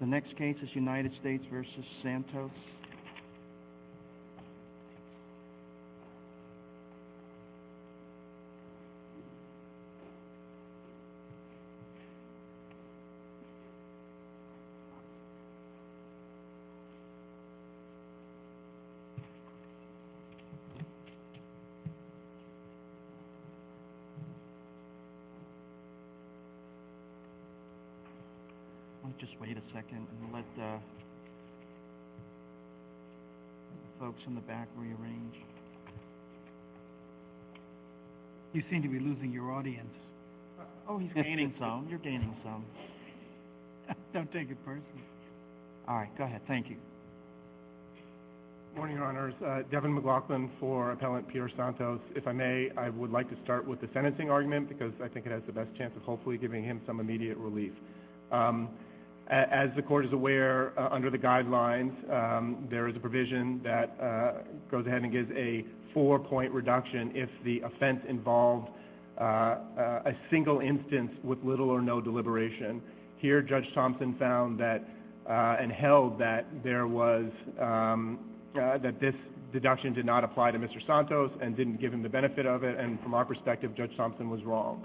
The next case is United States v. Santos. Let's just wait a second and let the folks in the back rearrange. You seem to be losing your audience. Oh, he's gaining some. You're gaining some. Don't take it personally. All right, go ahead. Thank you. Good morning, Your Honors. Devin McLaughlin for Appellant Peter Santos. If I may, I would like to start with the sentencing argument because I think it has the best chance of hopefully giving him some immediate relief. As the Court is aware, under the guidelines, there is a provision that goes ahead and gives a four-point reduction if the offense involved a single instance with little or no deliberation. Here, Judge Thompson found and held that this deduction did not apply to Mr. Santos and didn't give him the benefit of it, and from our perspective, Judge Thompson was wrong.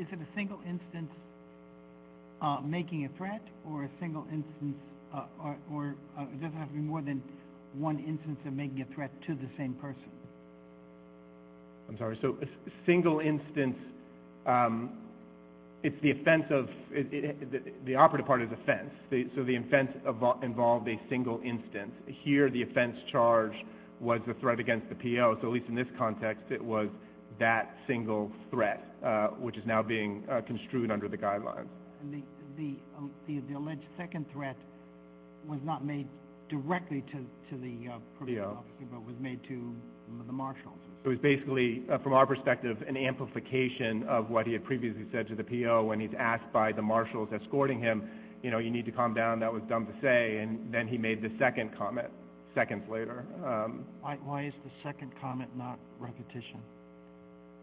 Is it a single instance making a threat, or does it have to be more than one instance of making a threat to the same person? I'm sorry. So a single instance, it's the offense of – the operative part is offense. So the offense involved a single instance. Here, the offense charge was the threat against the PO, so at least in this context, it was that single threat, which is now being construed under the guidelines. The alleged second threat was not made directly to the PO, but was made to the marshals. It was basically, from our perspective, an amplification of what he had previously said to the PO when he's asked by the marshals escorting him, you know, you need to calm down, that was dumb to say, and then he made the second comment seconds later. Why is the second comment not repetition?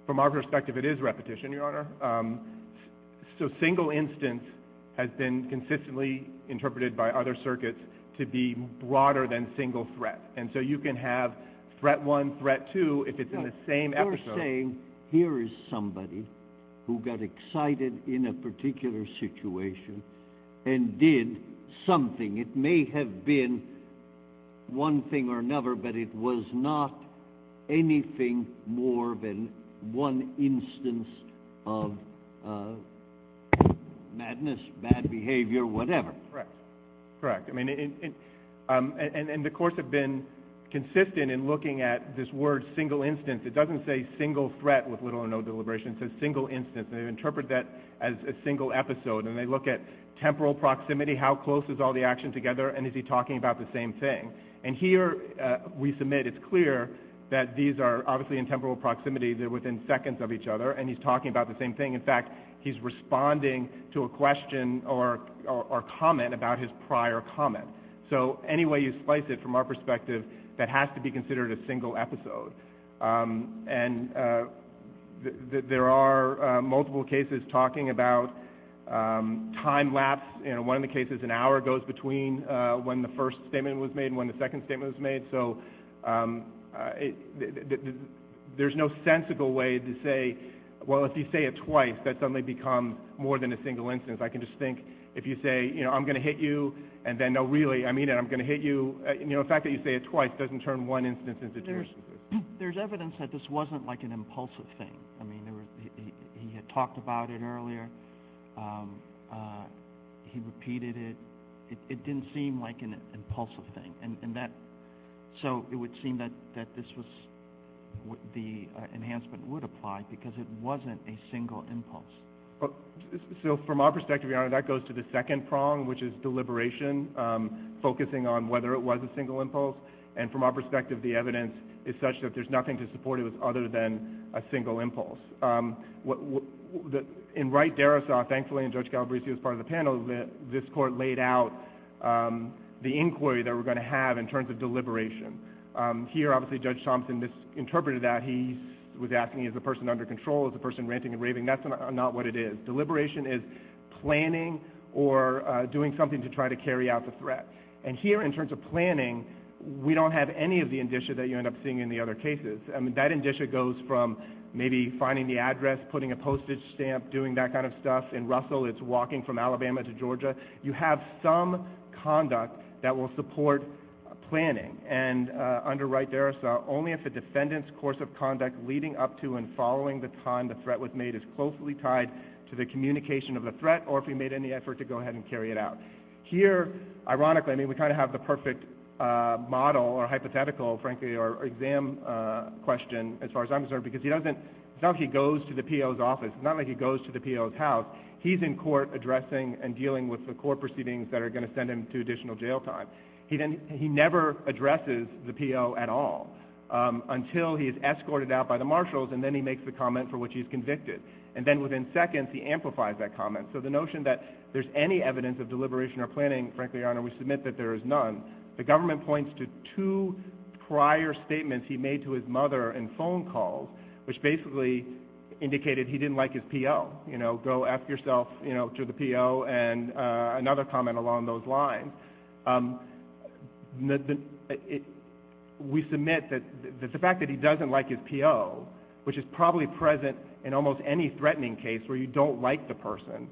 From our perspective, it is repetition, Your Honor. So single instance has been consistently interpreted by other circuits to be broader than single threat, and so you can have threat one, threat two, if it's in the same episode. You're saying here is somebody who got excited in a particular situation and did something. It may have been one thing or another, but it was not anything more than one instance of madness, bad behavior, whatever. Correct, correct. I mean, and the courts have been consistent in looking at this word single instance. It doesn't say single threat with little or no deliberation. It says single instance, and they interpret that as a single episode, and they look at temporal proximity, how close is all the action together, and is he talking about the same thing. And here we submit it's clear that these are obviously in temporal proximity. They're within seconds of each other, and he's talking about the same thing. In fact, he's responding to a question or comment about his prior comment. So any way you slice it from our perspective, that has to be considered a single episode. And there are multiple cases talking about time lapse. One of the cases, an hour goes between when the first statement was made and when the second statement was made. So there's no sensical way to say, well, if you say it twice, that suddenly becomes more than a single instance. I can just think if you say, you know, I'm going to hit you, and then, no, really, I mean it, I'm going to hit you. You know, the fact that you say it twice doesn't turn one instance into two instances. There's evidence that this wasn't like an impulsive thing. I mean, he had talked about it earlier. He repeated it. It didn't seem like an impulsive thing. And so it would seem that this was the enhancement would apply because it wasn't a single impulse. So from our perspective, Your Honor, that goes to the second prong, which is deliberation, focusing on whether it was a single impulse. And from our perspective, the evidence is such that there's nothing to support it other than a single impulse. In Wright-Darrisaw, thankfully, and Judge Galbraith was part of the panel, this court laid out the inquiry that we're going to have in terms of deliberation. Here, obviously, Judge Thompson misinterpreted that. He was asking, is the person under control? Is the person ranting and raving? That's not what it is. Deliberation is planning or doing something to try to carry out the threat. And here, in terms of planning, we don't have any of the indicia that you end up seeing in the other cases. I mean, that indicia goes from maybe finding the address, putting a postage stamp, doing that kind of stuff. In Russell, it's walking from Alabama to Georgia. You have some conduct that will support planning. And under Wright-Darrisaw, only if the defendant's course of conduct leading up to and following the time the threat was made is closely tied to the communication of the threat or if he made any effort to go ahead and carry it out. Here, ironically, I mean, we kind of have the perfect model or hypothetical, frankly, or exam question as far as I'm concerned because it's not like he goes to the P.O.'s office. It's not like he goes to the P.O.'s house. He's in court addressing and dealing with the court proceedings that are going to send him to additional jail time. He never addresses the P.O. at all until he is escorted out by the marshals, and then he makes the comment for which he's convicted. And then within seconds, he amplifies that comment. So the notion that there's any evidence of deliberation or planning, frankly, Your Honor, we submit that there is none. The government points to two prior statements he made to his mother in phone calls, which basically indicated he didn't like his P.O. You know, go ask yourself to the P.O. and another comment along those lines. We submit that the fact that he doesn't like his P.O., which is probably present in almost any threatening case where you don't like the person,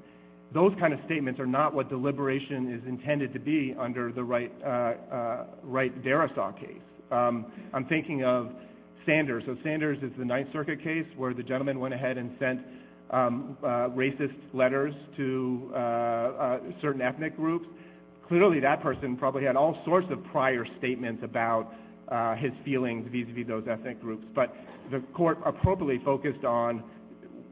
those kind of statements are not what deliberation is intended to be under the Wright-Darrisaw case. I'm thinking of Sanders. So Sanders is the Ninth Circuit case where the gentleman went ahead and sent racist letters to certain ethnic groups. Clearly that person probably had all sorts of prior statements about his feelings vis-à-vis those ethnic groups. But the court appropriately focused on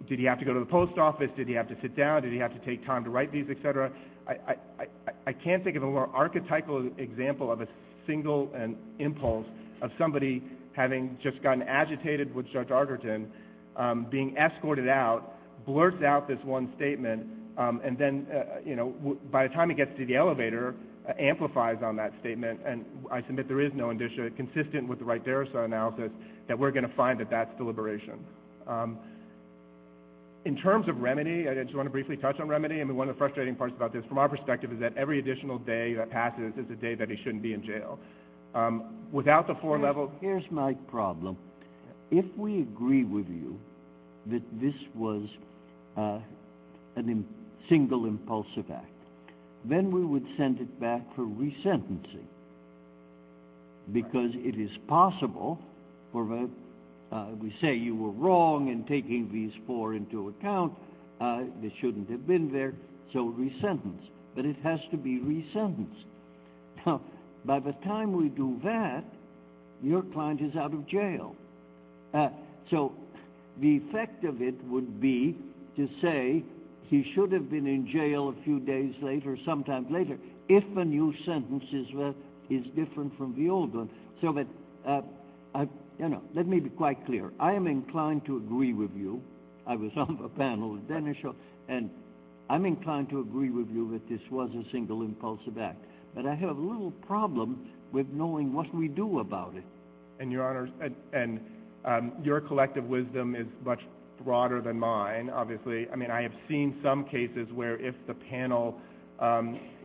did he have to go to the post office, did he have to sit down, did he have to take time to write these, et cetera. I can't think of a more archetypal example of a single impulse of somebody having just gotten agitated with Judge Arterton, being escorted out, blurts out this one statement, and then by the time he gets to the elevator, amplifies on that statement, and I submit there is no indicia consistent with the Wright-Darrisaw analysis that we're going to find that that's deliberation. In terms of remedy, I just want to briefly touch on remedy. I mean, one of the frustrating parts about this from our perspective is that every additional day that passes is a day that he shouldn't be in jail. Here's my problem. If we agree with you that this was a single impulsive act, then we would send it back for resentencing because it is possible, we say you were wrong in taking these four into account, they shouldn't have been there, so resentence. But it has to be resentenced. Now, by the time we do that, your client is out of jail. So the effect of it would be to say he should have been in jail a few days later, sometimes later, if a new sentence is different from the old one. Let me be quite clear. I am inclined to agree with you. I was on the panel with Dennis Shaw, and I'm inclined to agree with you that this was a single impulsive act. But I have a little problem with knowing what we do about it. And, Your Honor, your collective wisdom is much broader than mine, obviously. I mean, I have seen some cases where if the panel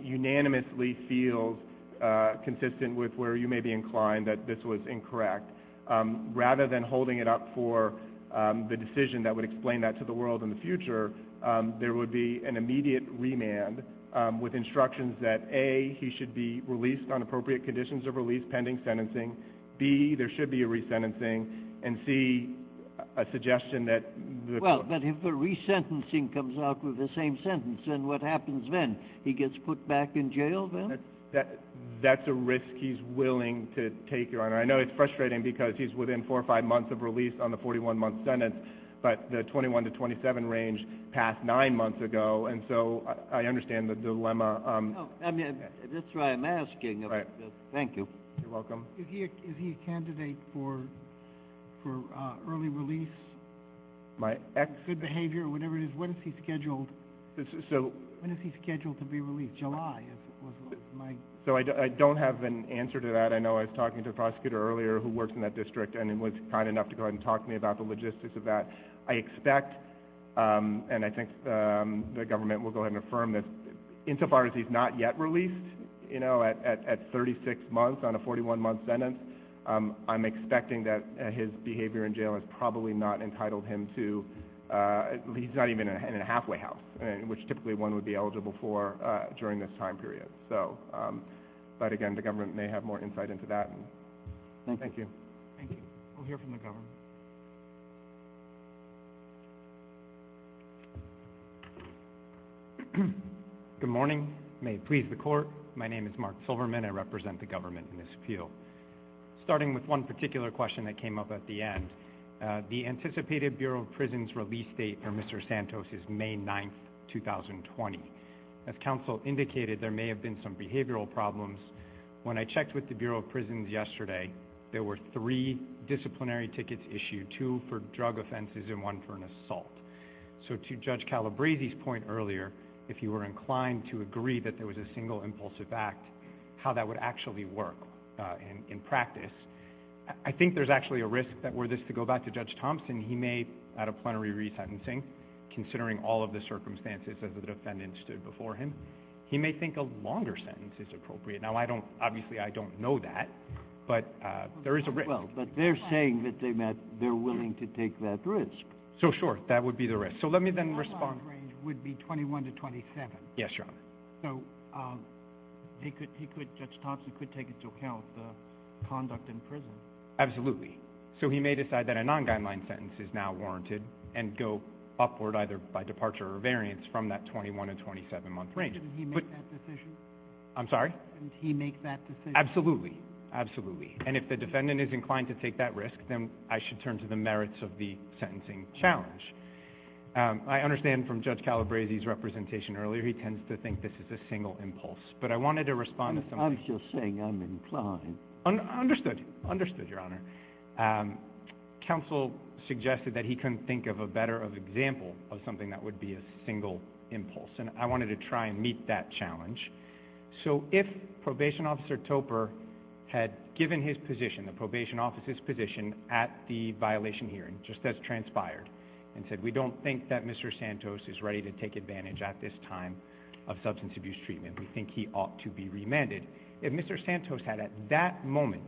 unanimously feels consistent with where you may be inclined that this was incorrect, rather than holding it up for the decision that would explain that to the world in the future, there would be an immediate remand with instructions that, A, he should be released on appropriate conditions of release pending sentencing, B, there should be a resentencing, and C, a suggestion that the court. Well, but if the resentencing comes out with the same sentence, then what happens then? He gets put back in jail then? That's a risk he's willing to take, Your Honor. I know it's frustrating because he's within four or five months of release on the 41-month sentence, but the 21 to 27 range passed nine months ago, and so I understand the dilemma. That's why I'm asking. Thank you. You're welcome. Is he a candidate for early release, good behavior, whatever it is? When is he scheduled to be released? July is my question. So I don't have an answer to that. I know I was talking to a prosecutor earlier who works in that district and was kind enough to go ahead and talk to me about the logistics of that. I expect, and I think the government will go ahead and affirm this, insofar as he's not yet released, you know, at 36 months on a 41-month sentence, I'm expecting that his behavior in jail is probably not entitled him to, he's not even in a halfway house, which typically one would be eligible for during this time period. But again, the government may have more insight into that. Thank you. Thank you. We'll hear from the government. Good morning. May it please the Court. My name is Mark Silverman. I represent the government in this field. Starting with one particular question that came up at the end, the anticipated Bureau of Prisons release date for Mr. Santos is May 9, 2020. As counsel indicated, there may have been some behavioral problems. When I checked with the Bureau of Prisons yesterday, there were three disciplinary tickets issued, two for drug offenses and one for an assault. So to Judge Calabresi's point earlier, if you were inclined to agree that there was a single impulsive act, how that would actually work in practice, I think there's actually a risk that were this to go back to Judge Thompson, he may, out of plenary resentencing, considering all of the circumstances as the defendant stood before him, he may think a longer sentence is appropriate. Now, I don't, obviously I don't know that, but there is a risk. But they're saying that they're willing to take that risk. So, sure, that would be the risk. So let me then respond. The non-guideline range would be 21 to 27. Yes, Your Honor. So Judge Thompson could take into account the conduct in prison. Absolutely. So he may decide that a non-guideline sentence is now warranted and go upward either by departure or variance from that 21 to 27-month range. Didn't he make that decision? I'm sorry? Didn't he make that decision? Absolutely, absolutely. And if the defendant is inclined to take that risk, then I should turn to the merits of the sentencing challenge. I understand from Judge Calabresi's representation earlier, he tends to think this is a single impulse. But I wanted to respond to something. I'm just saying I'm inclined. Understood, understood, Your Honor. Counsel suggested that he couldn't think of a better example of something that would be a single impulse, and I wanted to try and meet that challenge. So if Probation Officer Topper had given his position, the Probation Officer's position at the violation hearing, just as transpired, and said, we don't think that Mr. Santos is ready to take advantage at this time of substance abuse treatment. We think he ought to be remanded. If Mr. Santos had at that moment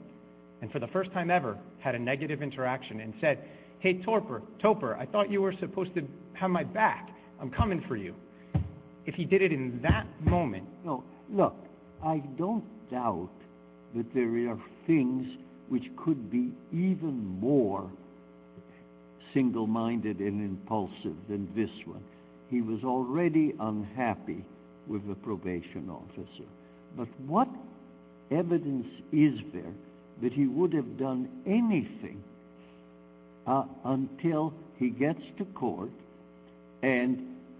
and for the first time ever had a negative interaction and said, hey, Topper, I thought you were supposed to have my back. I'm coming for you. If he did it in that moment. Look, I don't doubt that there are things which could be even more single-minded and impulsive than this one. He was already unhappy with the Probation Officer. But what evidence is there that he would have done anything until he gets to court and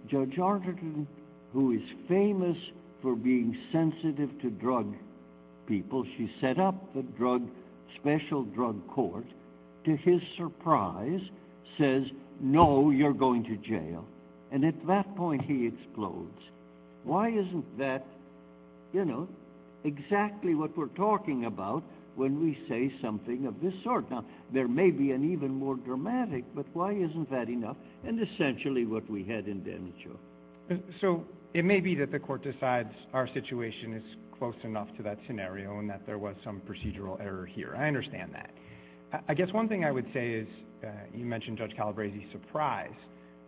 Judge Arterton, who is famous for being sensitive to drug people, she set up the drug, special drug court, to his surprise says, no, you're going to jail. And at that point he explodes. Why isn't that, you know, exactly what we're talking about when we say something of this sort? Now, there may be an even more dramatic, but why isn't that enough? And essentially what we had in damage law. So it may be that the court decides our situation is close enough to that scenario and that there was some procedural error here. I understand that. I guess one thing I would say is you mentioned Judge Calabresi's surprise,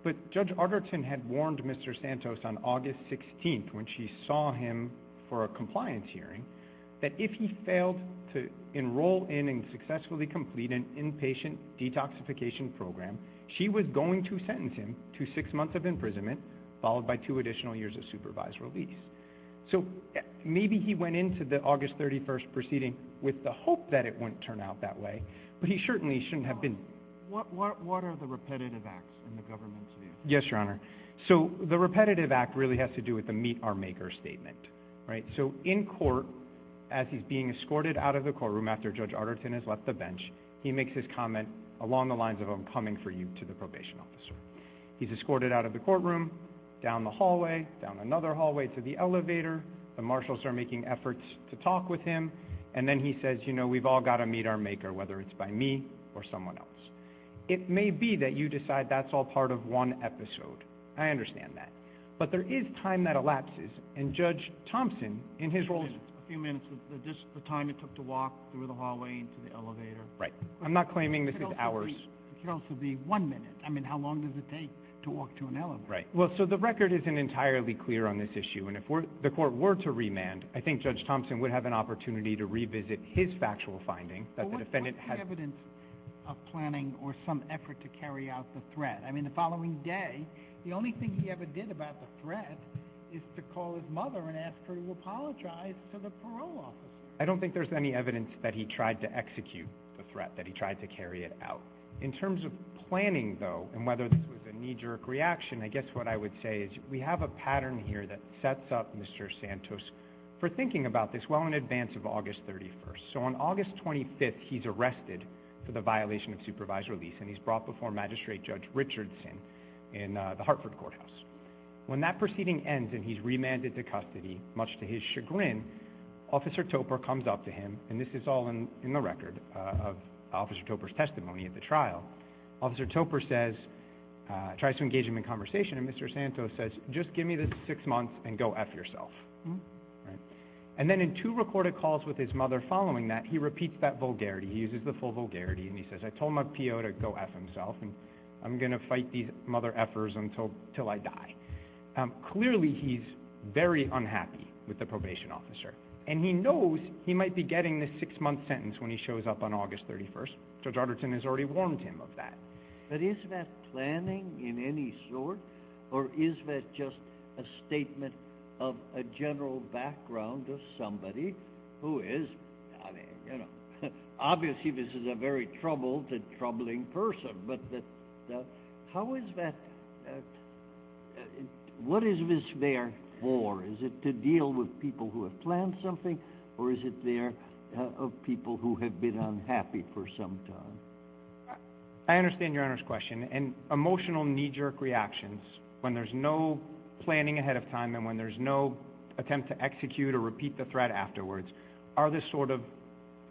but Judge Arterton had warned Mr. Santos on August 16th when she saw him for a compliance hearing that if he failed to enroll in and successfully complete an inpatient detoxification program, she was going to sentence him to six months of imprisonment followed by two additional years of supervised release. So maybe he went into the August 31st proceeding with the hope that it wouldn't turn out that way, but he certainly shouldn't have been. What are the repetitive acts in the government's view? Yes, Your Honor. So the repetitive act really has to do with the meet our maker statement. So in court, as he's being escorted out of the courtroom after Judge Arterton has left the bench, he makes his comment along the lines of, I'm coming for you, to the probation officer. He's escorted out of the courtroom, down the hallway, down another hallway to the elevator. The marshals are making efforts to talk with him, and then he says, you know, we've all got to meet our maker, whether it's by me or someone else. It may be that you decide that's all part of one episode. I understand that. But there is time that elapses, and Judge Thompson, in his role as a judge, how long it took to walk through the hallway into the elevator. Right. I'm not claiming this is hours. It could also be one minute. I mean, how long does it take to walk to an elevator? Right. Well, so the record isn't entirely clear on this issue, and if the court were to remand, I think Judge Thompson would have an opportunity to revisit his factual finding. What's the evidence of planning or some effort to carry out the threat? I mean, the following day, the only thing he ever did about the threat is to call his mother and ask her to apologize to the parole office. I don't think there's any evidence that he tried to execute the threat, that he tried to carry it out. In terms of planning, though, and whether this was a knee-jerk reaction, I guess what I would say is we have a pattern here that sets up Mr. Santos for thinking about this well in advance of August 31st. So on August 25th, he's arrested for the violation of supervisor lease, and he's brought before Magistrate Judge Richardson in the Hartford Courthouse. When that proceeding ends and he's remanded to custody, much to his chagrin, Officer Topper comes up to him, and this is all in the record of Officer Topper's testimony at the trial. Officer Topper tries to engage him in conversation, and Mr. Santos says, just give me this six months and go F yourself. And then in two recorded calls with his mother following that, he repeats that vulgarity. He uses the full vulgarity, and he says, I told my PO to go F himself, and I'm going to fight these mother F'ers until I die. Clearly he's very unhappy with the probation officer, and he knows he might be getting this six-month sentence when he shows up on August 31st. Judge Arderton has already warned him of that. But is that planning in any sort, or is that just a statement of a general background of somebody who is, I mean, obviously this is a very troubled and troubling person, but how is that, what is this there for? Is it to deal with people who have planned something, or is it there of people who have been unhappy for some time? I understand Your Honor's question. And emotional knee-jerk reactions, when there's no planning ahead of time and when there's no attempt to execute or repeat the threat afterwards, are the sort of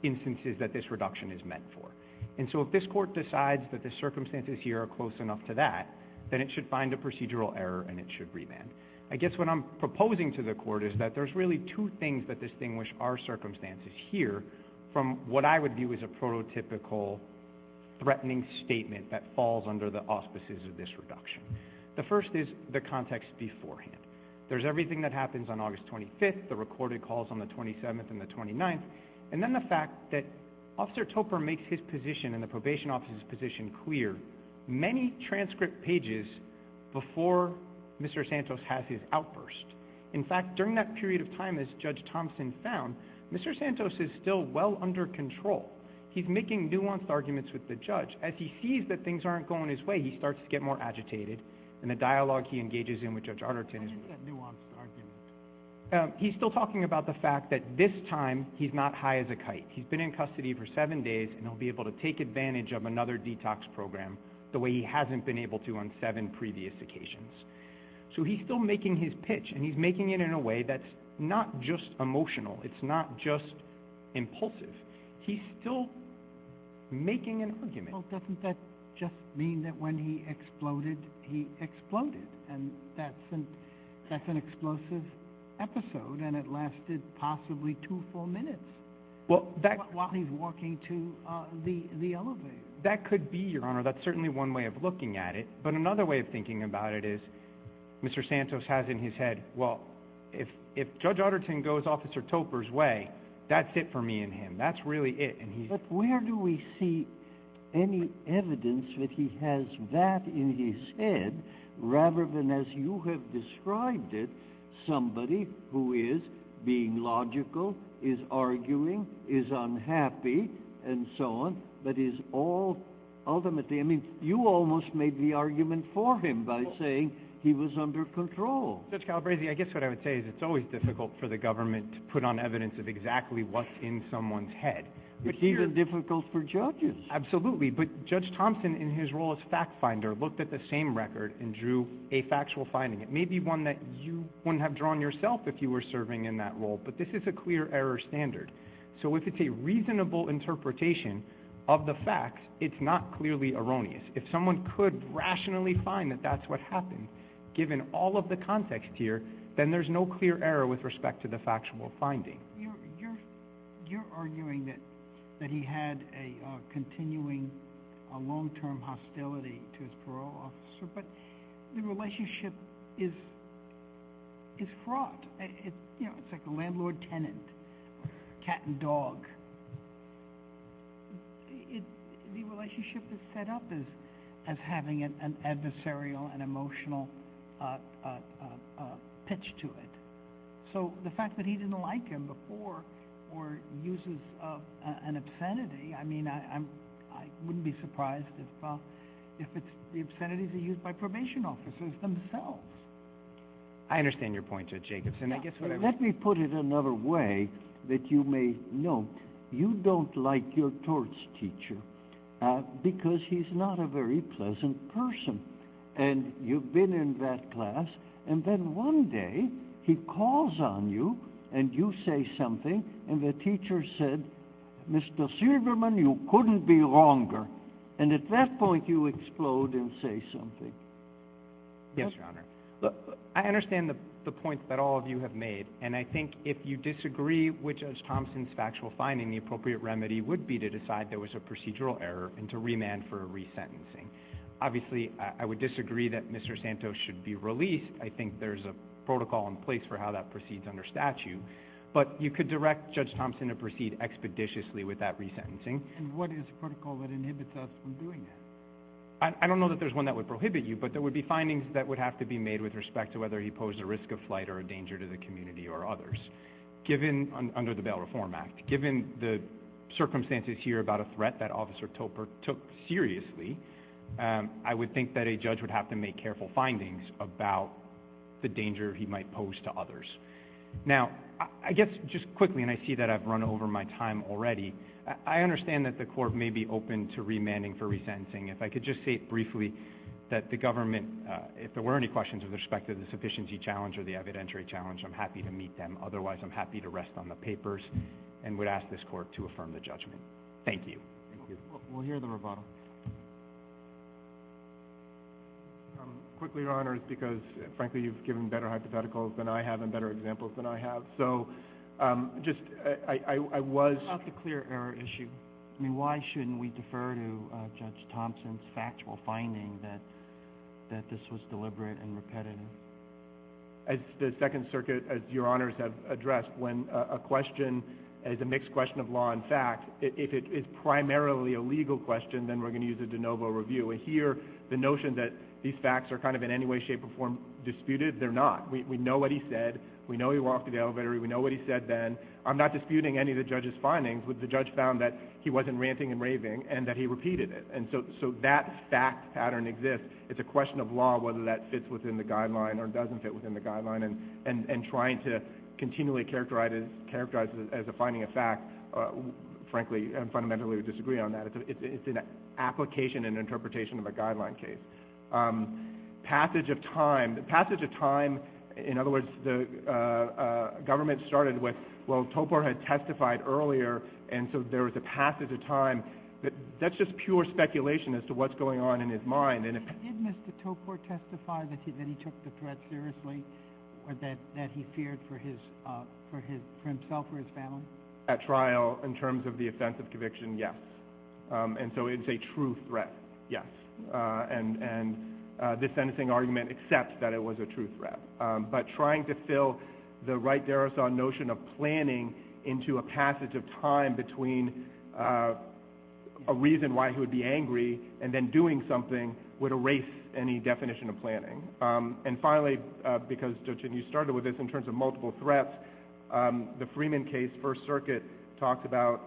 instances that this reduction is meant for. And so if this court decides that the circumstances here are close enough to that, then it should find a procedural error and it should remand. I guess what I'm proposing to the court is that there's really two things that distinguish our circumstances here from what I would view as a prototypical threatening statement that falls under the auspices of this reduction. The first is the context beforehand. There's everything that happens on August 25th, the recorded calls on the 27th and the 29th, and then the fact that Officer Topper makes his position and the probation officer's position clear many transcript pages before Mr. Santos has his outburst. In fact, during that period of time, as Judge Thompson found, Mr. Santos is still well under control. He's making nuanced arguments with the judge. As he sees that things aren't going his way, he starts to get more agitated, and the dialogue he engages in with Judge Arnerton is more nuanced. He's still talking about the fact that this time he's not high as a kite. He's been in custody for seven days, and he'll be able to take advantage of another detox program the way he hasn't been able to on seven previous occasions. So he's still making his pitch, and he's making it in a way that's not just emotional. It's not just impulsive. He's still making an argument. Well, doesn't that just mean that when he exploded, he exploded? And that's an explosive episode, and it lasted possibly two full minutes while he's walking to the elevator. That could be, Your Honor. That's certainly one way of looking at it. But another way of thinking about it is Mr. Santos has in his head, well, if Judge Arnerton goes Officer Topper's way, that's it for me and him. That's really it. But where do we see any evidence that he has that in his head rather than, as you have described it, somebody who is being logical, is arguing, is unhappy, and so on, but is all ultimately, I mean, you almost made the argument for him by saying he was under control. Judge Calabresi, I guess what I would say is it's always difficult for the government to put on evidence of exactly what's in someone's head. It's even difficult for judges. Absolutely. But Judge Thompson, in his role as fact finder, looked at the same record and drew a factual finding. It may be one that you wouldn't have drawn yourself if you were serving in that role, but this is a clear error standard. So if it's a reasonable interpretation of the facts, it's not clearly erroneous. If someone could rationally find that that's what happened, given all of the context here, then there's no clear error with respect to the factual finding. You're arguing that he had a continuing long-term hostility to his parole officer, but the relationship is fraught. It's like a landlord-tenant, cat and dog. The relationship is set up as having an adversarial and emotional pitch to it. So the fact that he didn't like him before or uses an obscenity, I mean, I wouldn't be surprised if the obscenities are used by probation officers themselves. I understand your point, Judge Jacobson. Let me put it another way that you may know. You don't like your torts teacher because he's not a very pleasant person, and you've been in that class, and then one day he calls on you and you say something, and the teacher said, Mr. Silverman, you couldn't be longer, and at that point you explode and say something. Yes, Your Honor. I understand the point that all of you have made, and I think if you disagree which of Thompson's factual findings the appropriate remedy would be to decide there was a procedural error and to remand for a resentencing. Obviously, I would disagree that Mr. Santos should be released. I think there's a protocol in place for how that proceeds under statute, but you could direct Judge Thompson to proceed expeditiously with that resentencing. And what is the protocol that inhibits us from doing that? I don't know that there's one that would prohibit you, but there would be findings that would have to be made with respect to whether he posed a risk of flight or a danger to the community or others under the Bail Reform Act. Given the circumstances here about a threat that Officer Topper took seriously, I would think that a judge would have to make careful findings about the danger he might pose to others. Now, I guess just quickly, and I see that I've run over my time already, I understand that the court may be open to remanding for resentencing. If I could just say briefly that the government, if there were any questions with respect to the sufficiency challenge or the evidentiary challenge, I'm happy to meet them. And would ask this court to affirm the judgment. Thank you. We'll hear the rebuttal. Quickly, Your Honors, because, frankly, you've given better hypotheticals than I have and better examples than I have, so just I was... What about the clear error issue? I mean, why shouldn't we defer to Judge Thompson's factual finding that this was deliberate and repetitive? As the Second Circuit, as Your Honors have addressed, when a question is a mixed question of law and fact, if it is primarily a legal question, then we're going to use a de novo review. And here, the notion that these facts are kind of in any way, shape, or form disputed, they're not. We know what he said. We know he walked to the elevator. We know what he said then. I'm not disputing any of the judge's findings, but the judge found that he wasn't ranting and raving and that he repeated it. And so that fact pattern exists. It's a question of law whether that fits within the guideline or doesn't fit within the guideline. And trying to continually characterize it as a finding of fact, frankly, I fundamentally disagree on that. It's an application and interpretation of a guideline case. Passage of time. The passage of time, in other words, the government started with, well, Topor had testified earlier, and so there was a passage of time. That's just pure speculation as to what's going on in his mind. Did Mr. Topor testify that he took the threat seriously or that he feared for himself or his family? At trial, in terms of the offense of conviction, yes. And so it's a true threat, yes. And this sentencing argument accepts that it was a true threat. But trying to fill the right derison notion of planning into a passage of time between a reason why he would be angry and then doing something would erase any definition of planning. And finally, because, Jochen, you started with this in terms of multiple threats, the Freeman case, First Circuit, talks about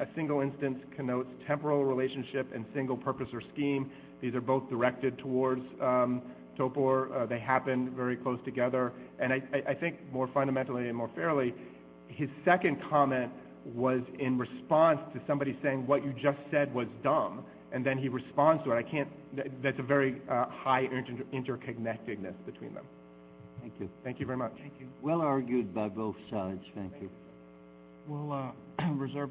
a single instance connotes temporal relationship and single purpose or scheme. These are both directed towards Topor. They happen very close together. And I think more fundamentally and more fairly, his second comment was in response to somebody saying, what you just said was dumb, and then he responds to it. I can't – there's a very high interconnectedness between them. Thank you. Thank you very much. Thank you. Well argued by both sides. Thank you. Thank you.